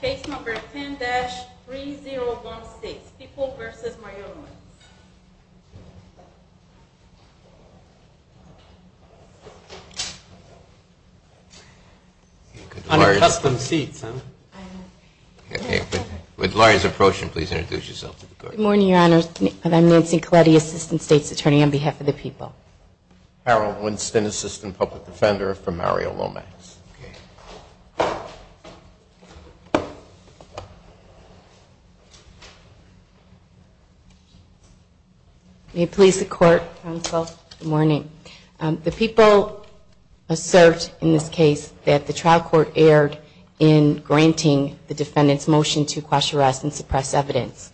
Case number 10-3016, People v. Mario Lomax. On a custom seat, sir. Good morning, Your Honors. I'm Nancy Colletti, Assistant State's Attorney on behalf of the People. Harold Winston, Assistant Public Defender for Mario Lomax. May it please the Court, Counsel. Good morning. The People assert in this case that the trial court erred in granting the defendant's motion to quash arrests and suppress evidence.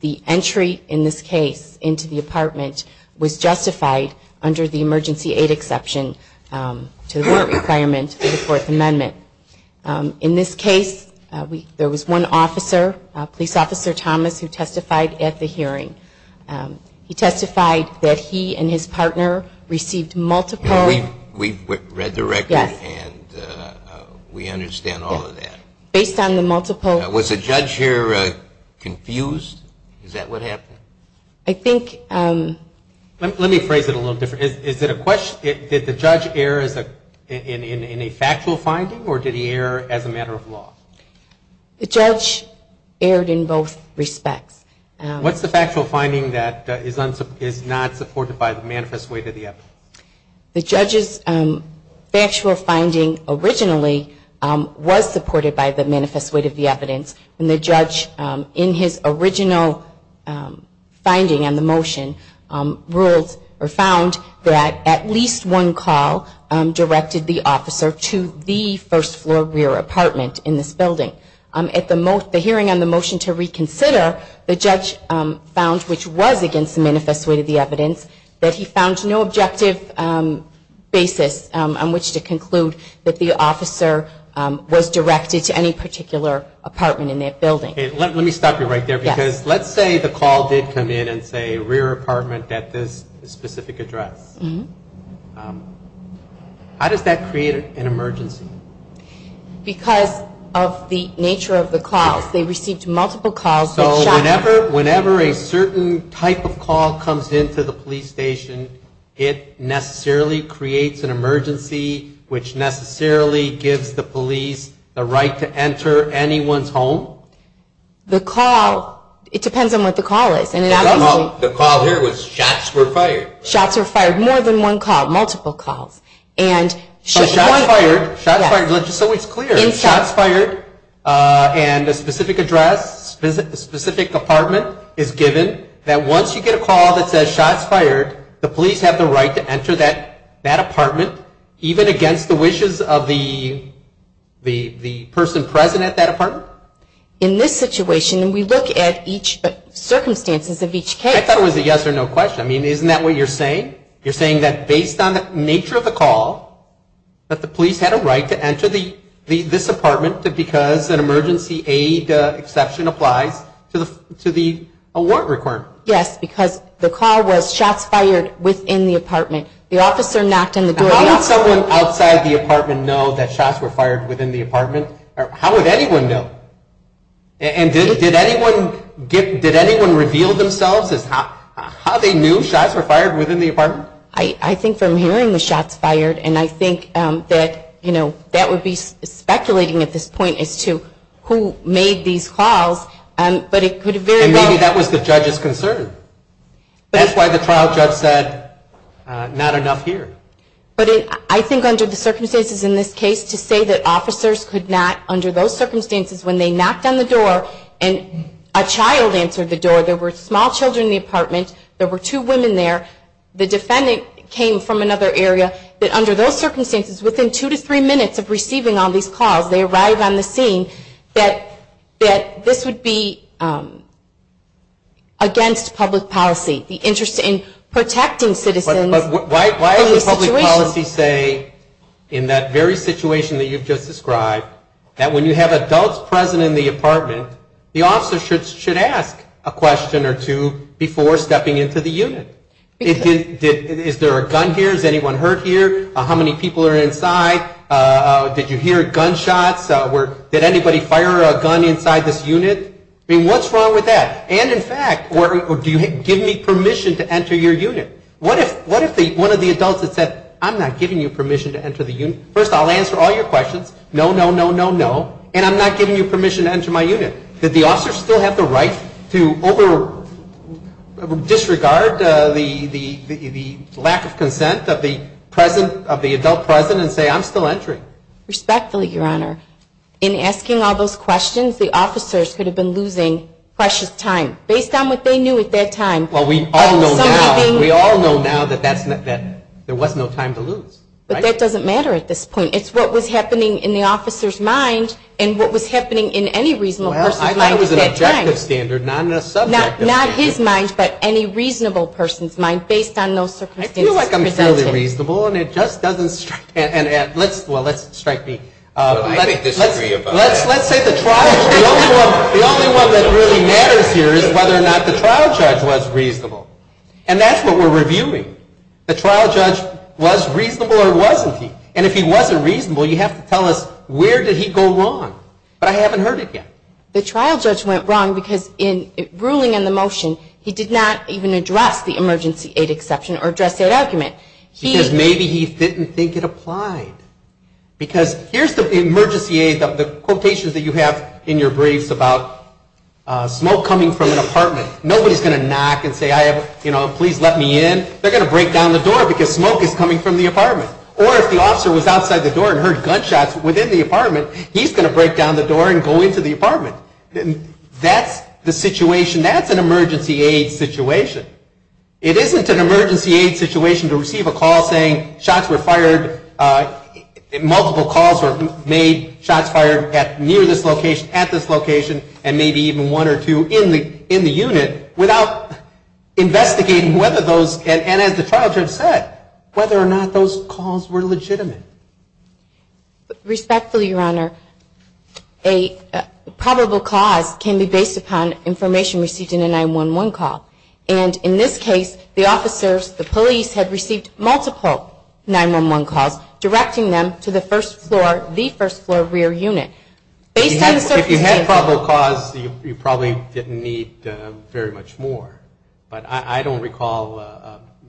The entry in this case into the apartment was justified under the emergency aid exception to the court requirement of the Fourth Amendment. In this case, there was one officer, Police Officer Thomas, who testified at the hearing. He testified that he and his partner received multiple... We read the record and we understand all of that. Based on the multiple... Was the judge here confused? Is that what happened? I think... Let me phrase it a little different. Is it a question, did the judge err in a factual finding or did he err as a matter of law? The judge erred in both respects. What's the factual finding that is not supported by the manifest weight of the evidence? The judge's factual finding originally was supported by the manifest weight of the evidence. And the judge, in his original finding on the motion, ruled or found that at least one call directed the officer to the first floor rear apartment in this building. At the hearing on the motion to reconsider, the judge found, which was against the manifest weight of the evidence, that he found no objective basis on which to conclude that the officer was directed to any particular apartment in that building. Let me stop you right there because let's say the call did come in and say rear apartment at this specific address. How does that create an emergency? Because of the nature of the calls. They received multiple calls. So whenever a certain type of call comes into the police station, it necessarily creates an emergency which necessarily gives the police the right to enter anyone's home? The call, it depends on what the call is. The call here was shots were fired. Shots were fired. More than one call. Multiple calls. Shots fired. So it's clear. Shots fired and a specific address, a specific apartment is given that once you get a call that says shots fired, the police have the right to enter that apartment even against the wishes of the person present at that apartment? In this situation, and we look at each circumstances of each case. I thought it was a yes or no question. I mean, isn't that what you're saying? You're saying that based on the nature of the call, that the police had a right to enter this apartment because an emergency aid exception applies to the warrant requirement? Yes, because the call was shots fired within the apartment. The officer knocked on the door. How would someone outside the apartment know that shots were fired within the apartment? How would anyone know? Did anyone reveal themselves as to how they knew shots were fired within the apartment? I think from hearing the shots fired, and I think that would be speculating at this point as to who made these calls. And maybe that was the judge's concern. That's why the trial judge said not enough here. But I think under the circumstances in this case, to say that officers could not, under those circumstances, when they knocked on the door and a child answered the door, there were small children in the apartment, there were two women there, the defendant came from another area, that under those circumstances, within two to three minutes of receiving all these calls, they arrived on the scene, that this would be against public policy. The interest in protecting citizens. Why would public policy say in that very situation that you've just described, that when you have adults present in the apartment, the officer should ask a question or two before stepping into the unit? Is there a gun here? Is anyone hurt here? How many people are inside? Did you hear gunshots? Did anybody fire a gun inside this unit? I mean, what's wrong with that? And in fact, do you give me permission to enter your unit? What if one of the adults had said, I'm not giving you permission to enter the unit? First, I'll answer all your questions. No, no, no, no, no. And I'm not giving you permission to enter my unit. Did the officer still have the right to disregard the lack of consent of the adult present and say, I'm still entering? Respectfully, Your Honor, in asking all those questions, the officers could have been losing precious time. Based on what they knew at that time. We all know now that there was no time to lose. But that doesn't matter at this point. It's what was happening in the officer's mind and what was happening in any reasonable person's mind at that time. I thought it was an objective standard, not a subjective standard. Not his mind, but any reasonable person's mind based on those circumstances presented. I feel like I'm fairly reasonable, and it just doesn't strike me. Let's say the trial, the only one that really matters here is whether or not the trial judge was reasonable. And that's what we're reviewing. The trial judge was reasonable or wasn't he? And if he wasn't reasonable, you have to tell us where did he go wrong? But I haven't heard it yet. The trial judge went wrong because in ruling in the motion, he did not even address the emergency aid exception or dress aid argument. Because maybe he didn't think it applied. Because here's the emergency aid, the quotations that you have in your briefs about smoke coming from an apartment. Nobody's going to knock and say, please let me in. They're going to break down the door because smoke is coming from the apartment. Or if the officer was outside the door and heard gunshots within the apartment, he's going to break down the door and go into the apartment. That's the situation. That's an emergency aid situation. It isn't an emergency aid situation to receive a call saying shots were fired, multiple calls were made, shots fired near this location, at this location, and maybe even one or two in the unit without investigating whether those, and as the trial judge said, whether or not those calls were legitimate. Respectfully, Your Honor, a probable cause can be based upon information received in a 911 call. And in this case, the officers, the police, had received multiple 911 calls, directing them to the first floor, the first floor rear unit. If you had probable cause, you probably didn't need very much more. But I don't recall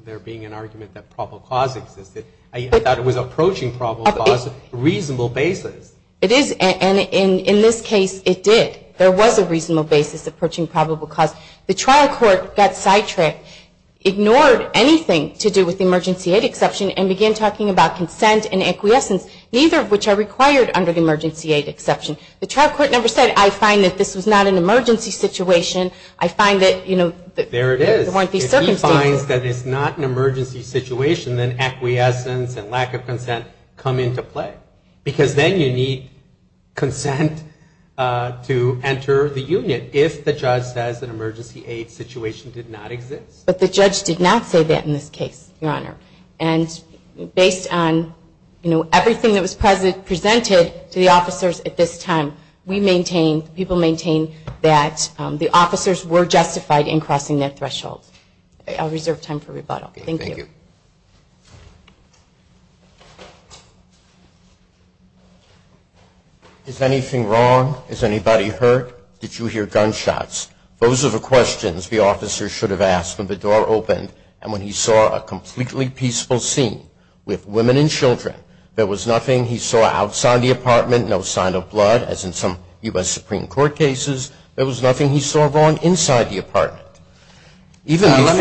there being an argument that probable cause existed. I thought it was approaching probable cause on a reasonable basis. It is, and in this case, it did. There was a reasonable basis approaching probable cause. The trial court got sidetracked, ignored anything to do with the emergency aid exception, and began talking about consent and acquiescence, neither of which are required under the emergency aid exception. The trial court never said, I find that this was not an emergency situation. I find that, you know, there weren't these circumstances. If he finds that it's not an emergency situation, then acquiescence and lack of consent come into play. Because then you need consent to enter the unit if the judge says an emergency aid situation did not exist. But the judge did not say that in this case, Your Honor. And based on, you know, everything that was presented to the officers at this time, we maintain, people maintain that the officers were justified in crossing that threshold. I'll reserve time for rebuttal. Thank you. Is anything wrong? Is anybody hurt? Did you hear gunshots? Those are the questions the officer should have asked when the door opened and when he saw a completely peaceful scene with women and children. There was nothing he saw outside the apartment, no sign of blood, as in some U.S. Supreme Court cases. There was nothing he saw wrong inside the apartment. Let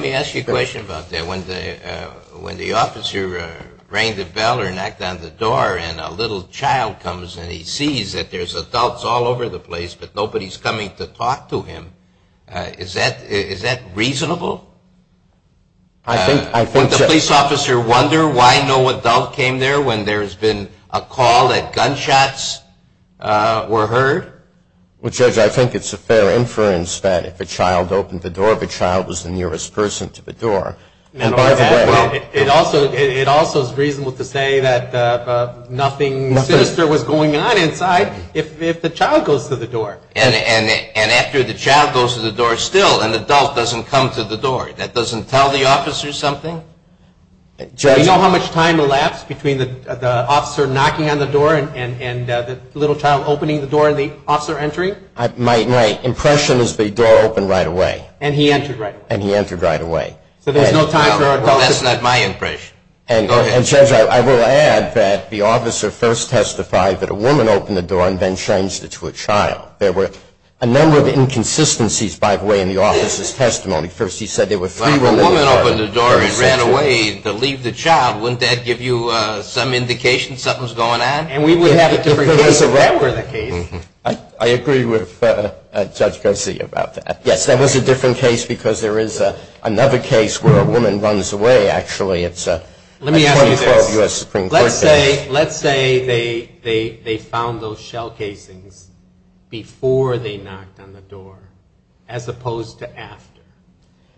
me ask you a question about that. When the officer rang the bell or knocked on the door and a little child comes and he sees that there's adults all over the place but nobody's coming to talk to him, is that reasonable? Would the police officer wonder why no adult came there when there's been a call that gunshots were heard? Well, Judge, I think it's a fair inference that if a child opened the door, the child was the nearest person to the door. It also is reasonable to say that nothing sinister was going on inside if the child goes to the door. And after the child goes to the door, still an adult doesn't come to the door. That doesn't tell the officer something? Do you know how much time elapsed between the officer knocking on the door and the little child opening the door and the officer entering? My impression is the door opened right away. And he entered right away. Well, that's not my impression. And Judge, I will add that the officer first testified that a woman opened the door and then changed it to a child. There were a number of inconsistencies, by the way, in the officer's testimony. First, he said there were three women. Well, if a woman opened the door and ran away to leave the child, wouldn't that give you some indication something's going on? And we would have a different case if that were the case. I agree with Judge Garcia about that. Yes, that was a different case because there is another case where a woman runs away, actually. Let me ask you this. Let's say they found those shell casings before they knocked on the door as opposed to after.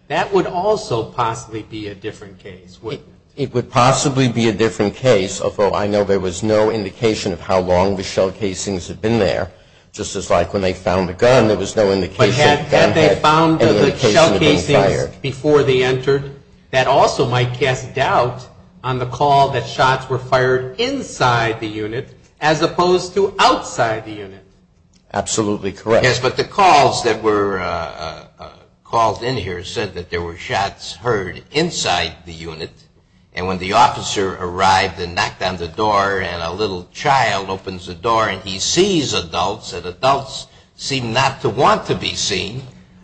That would also possibly be a different case, wouldn't it? It would possibly be a different case, although I know there was no indication of how long the shell casings had been there. Just as like when they found the gun, there was no indication the gun had been fired. That also might cast doubt on the call that shots were fired inside the unit as opposed to outside the unit. Absolutely correct. Yes, but the calls that were called in here said that there were shots heard inside the unit. And when the officer arrived and knocked on the door and a little child opens the door and he sees adults, and adults seem not to want to be seen,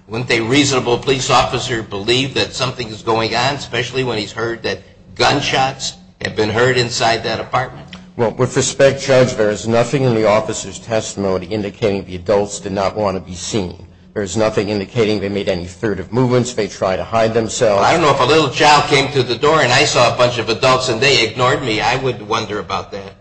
wouldn't a reasonable police officer believe that something is going on, especially when he's heard that gunshots have been heard inside that apartment? Well, with respect, Judge, there is nothing in the officer's testimony indicating the adults did not want to be seen. There is nothing indicating they made any furtive movements, they tried to hide themselves. I don't know if a little child came to the door and I saw a bunch of adults and they ignored me. I would wonder about that.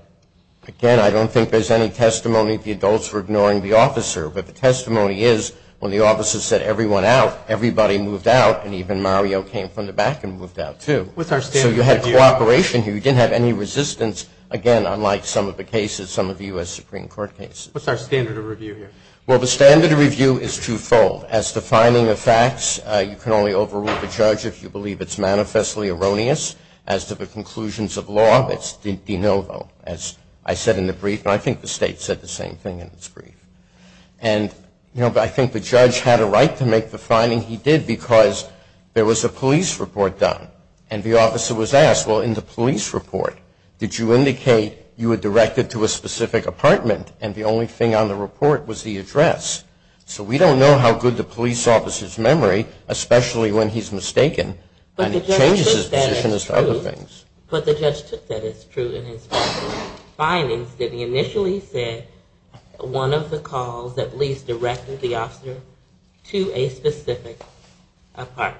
Again, I don't think there's any testimony the adults were ignoring the officer. But the testimony is when the officer said everyone out, everybody moved out and even Mario came from the back and moved out, too. So you had cooperation here. You didn't have any resistance, again, unlike some of the cases, some of the U.S. Supreme Court cases. What's our standard of review here? Well, the standard of review is twofold. As to finding the facts, you can only overrule the judge if you believe it's manifestly erroneous. As to the conclusions of law, it's de novo, as I said in the brief. And I think the state said the same thing in its brief. And I think the judge had a right to make the finding he did because there was a police report done. And the officer was asked, well, in the police report, did you indicate you were directed to a specific apartment? And the only thing on the report was the address. So we don't know how good the police officer's memory, especially when he's mistaken. And it changes his position as to other things. But the judge took that as true in his findings. He initially said one of the calls at least directed the officer to a specific apartment.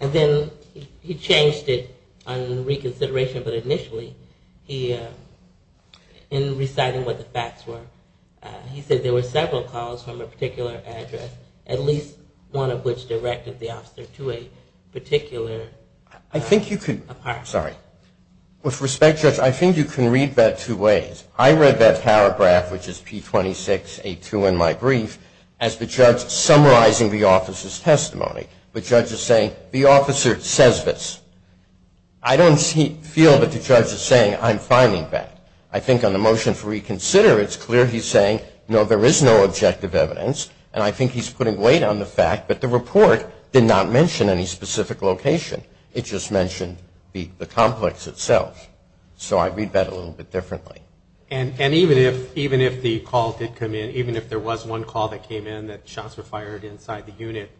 And then he changed it on reconsideration. But initially, in reciting what the facts were, he said there were several calls from a particular address, at least one of which directed the officer to a particular apartment. With respect, Judge, I think you can read that two ways. I read that paragraph, which is P26A2 in my brief, as the judge summarizing the officer's testimony. The judge is saying, the officer says this. I don't feel that the judge is saying, I'm finding that. I think on the motion for reconsider, it's clear he's saying, no, there is no objective evidence. And I think he's putting weight on the fact that the report did not mention any specific location. It just mentioned the complex itself. So I read that a little bit differently. And even if the call did come in, even if there was one call that came in that shots were fired inside the unit,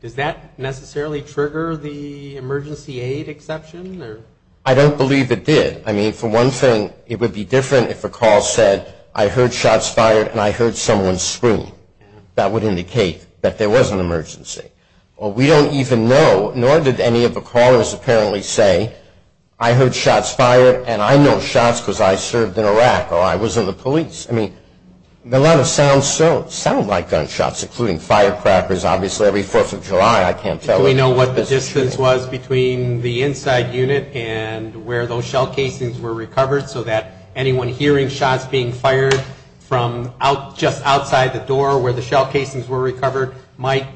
does that necessarily trigger the emergency aid exception? I don't believe it did. I mean, for one thing, it would be different if a call said, I heard shots fired and I heard someone scream. That would indicate that there was an emergency. Well, we don't even know, nor did any of the callers apparently say, I heard shots fired and I know shots because I served in Iraq or I was in the police. I mean, a lot of sounds sound like gunshots, including firecrackers. Obviously, every Fourth of July, I can't tell. Do we know what the distance was between the inside unit and where those shell casings were recovered, so that anyone hearing shots being fired from just outside the door where the shell casings were recovered might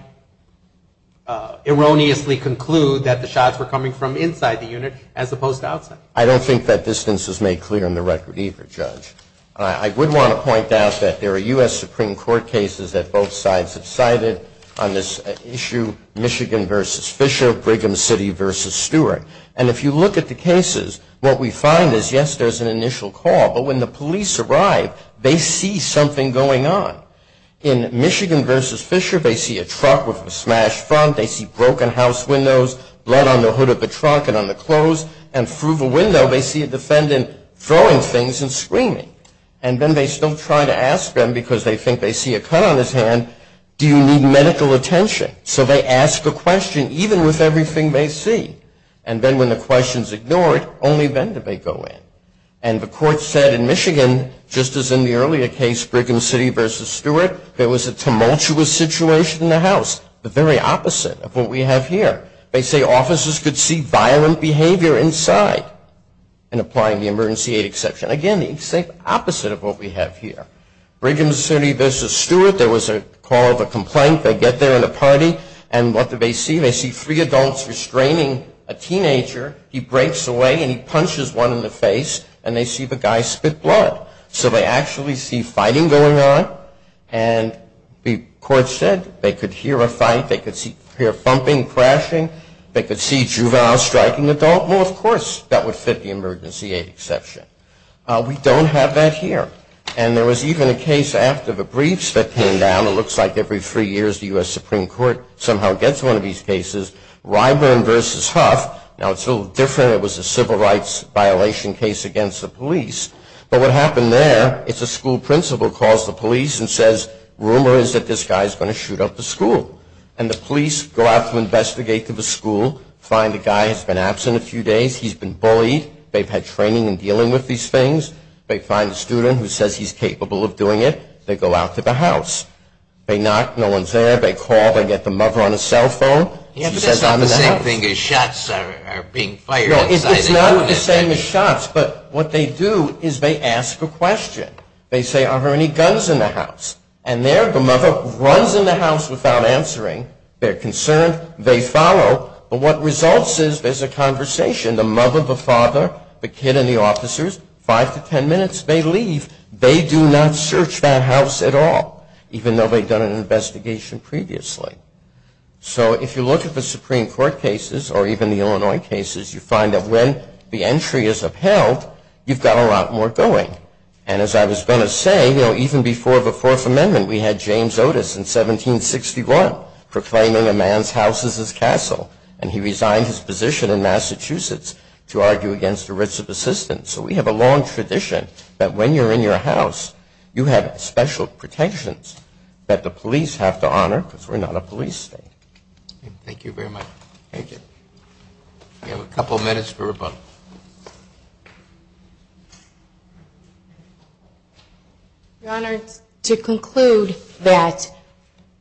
erroneously conclude that the shots were coming from inside the unit as opposed to outside? I don't think that distance is made clear in the record either, Judge. I would want to point out that there are U.S. Supreme Court cases that both sides have cited on this issue, Michigan v. Fisher, Brigham City v. Stewart. And if you look at the cases, what we find is, yes, there's an initial call, but when the police arrive, they see something going on. In Michigan v. Fisher, they see a truck with a smashed front, they see broken house windows, blood on the hood of the truck and on the clothes, and through the window, they see a defendant throwing things and screaming. And then they still try to ask them, because they think they see a cut on his hand, do you need medical attention? So they ask a question, even with everything they see. And then when the question is ignored, only then do they go in. And the court said in Michigan, just as in the earlier case, Brigham City v. Stewart, there was a tumultuous situation in the house, the very opposite of what we have here. They say officers could see violent behavior inside, and applying the emergency aid exception. Again, the exact opposite of what we have here. Brigham City v. Stewart, there was a call of a complaint. They get there in a party, and what do they see? They see three adults restraining a teenager. He breaks away and he punches one in the face, and they see the guy spit blood. So they actually see fighting going on, and the court said they could hear a fight, they could hear thumping, crashing, they could see juvenile striking an adult. Well, of course, that would fit the emergency aid exception. We don't have that here. And there was even a case after the briefs that came down. It looks like every three years the U.S. Supreme Court somehow gets one of these cases. Ryburn v. Huff, now it's a little different. It was a civil rights violation case against the police. But what happened there, it's a school principal who calls the police and says, rumor is that this guy is going to shoot up the school. And the police go out to investigate the school, find the guy has been absent a few days, he's been bullied, they've had training in dealing with these things. They find a student who says he's capable of doing it. They go out to the house. They knock, no one's there. They call, they get the mother on a cell phone. It's not the same thing as shots being fired outside. They say, are there any guns in the house? And there the mother runs in the house without answering. They're concerned. They follow. But what results is there's a conversation. The mother, the father, the kid, and the officers, five to ten minutes, they leave. They do not search that house at all, even though they'd done an investigation previously. So if you look at the Supreme Court cases or even the Illinois cases, you find that when the entry is upheld, you've got a lot more going. And as I was going to say, even before the Fourth Amendment, we had James Otis in 1761 proclaiming a man's house as his castle, and he resigned his position in Massachusetts to argue against the writs of assistance. So we have a long tradition that when you're in your house, you have special protections that the police have to honor because we're not a police state. Thank you very much. Thank you. We have a couple minutes for rebuttal. Your Honor, to conclude that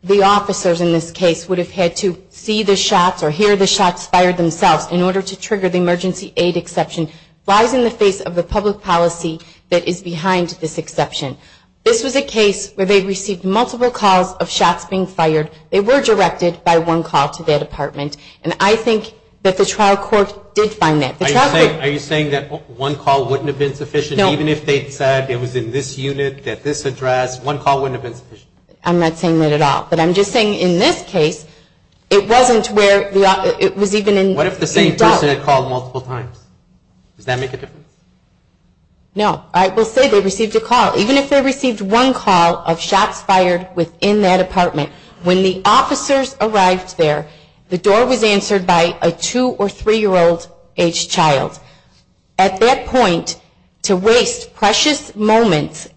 the officers in this case would have had to see the shots or hear the shots fired themselves in order to trigger the emergency aid exception lies in the face of the public policy that is behind this exception. This was a case where they received multiple calls of shots being fired. They were directed by one call to their department. And I think that the trial court did find that. Are you saying that one call wouldn't have been sufficient? No. Even if they said it was in this unit, that this address, one call wouldn't have been sufficient? I'm not saying that at all. But I'm just saying in this case, it wasn't where it was even in doubt. What if the same person had called multiple times? Does that make a difference? No. I will say they received a call. Even if they received one call of shots fired within their department, when the officers arrived there, the door was answered by a 2- or 3-year-old-aged child. At that point, to waste precious moments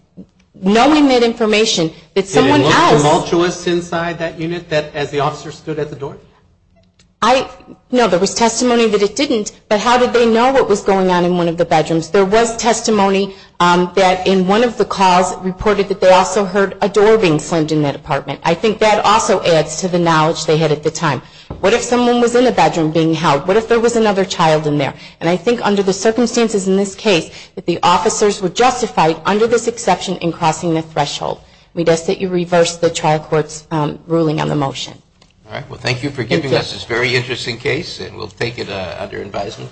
knowing that information, that someone has Was it tumultuous inside that unit as the officer stood at the door? No, there was testimony that it didn't. But how did they know what was going on in one of the bedrooms? There was testimony that in one of the calls reported that they also heard a door being slammed in that apartment. I think that also adds to the knowledge they had at the time. What if someone was in the bedroom being held? What if there was another child in there? And I think under the circumstances in this case that the officers were justified, under this exception, in crossing the threshold. We ask that you reverse the trial court's ruling on the motion. All right. Well, thank you for giving us this very interesting case, and we'll take it under advisement.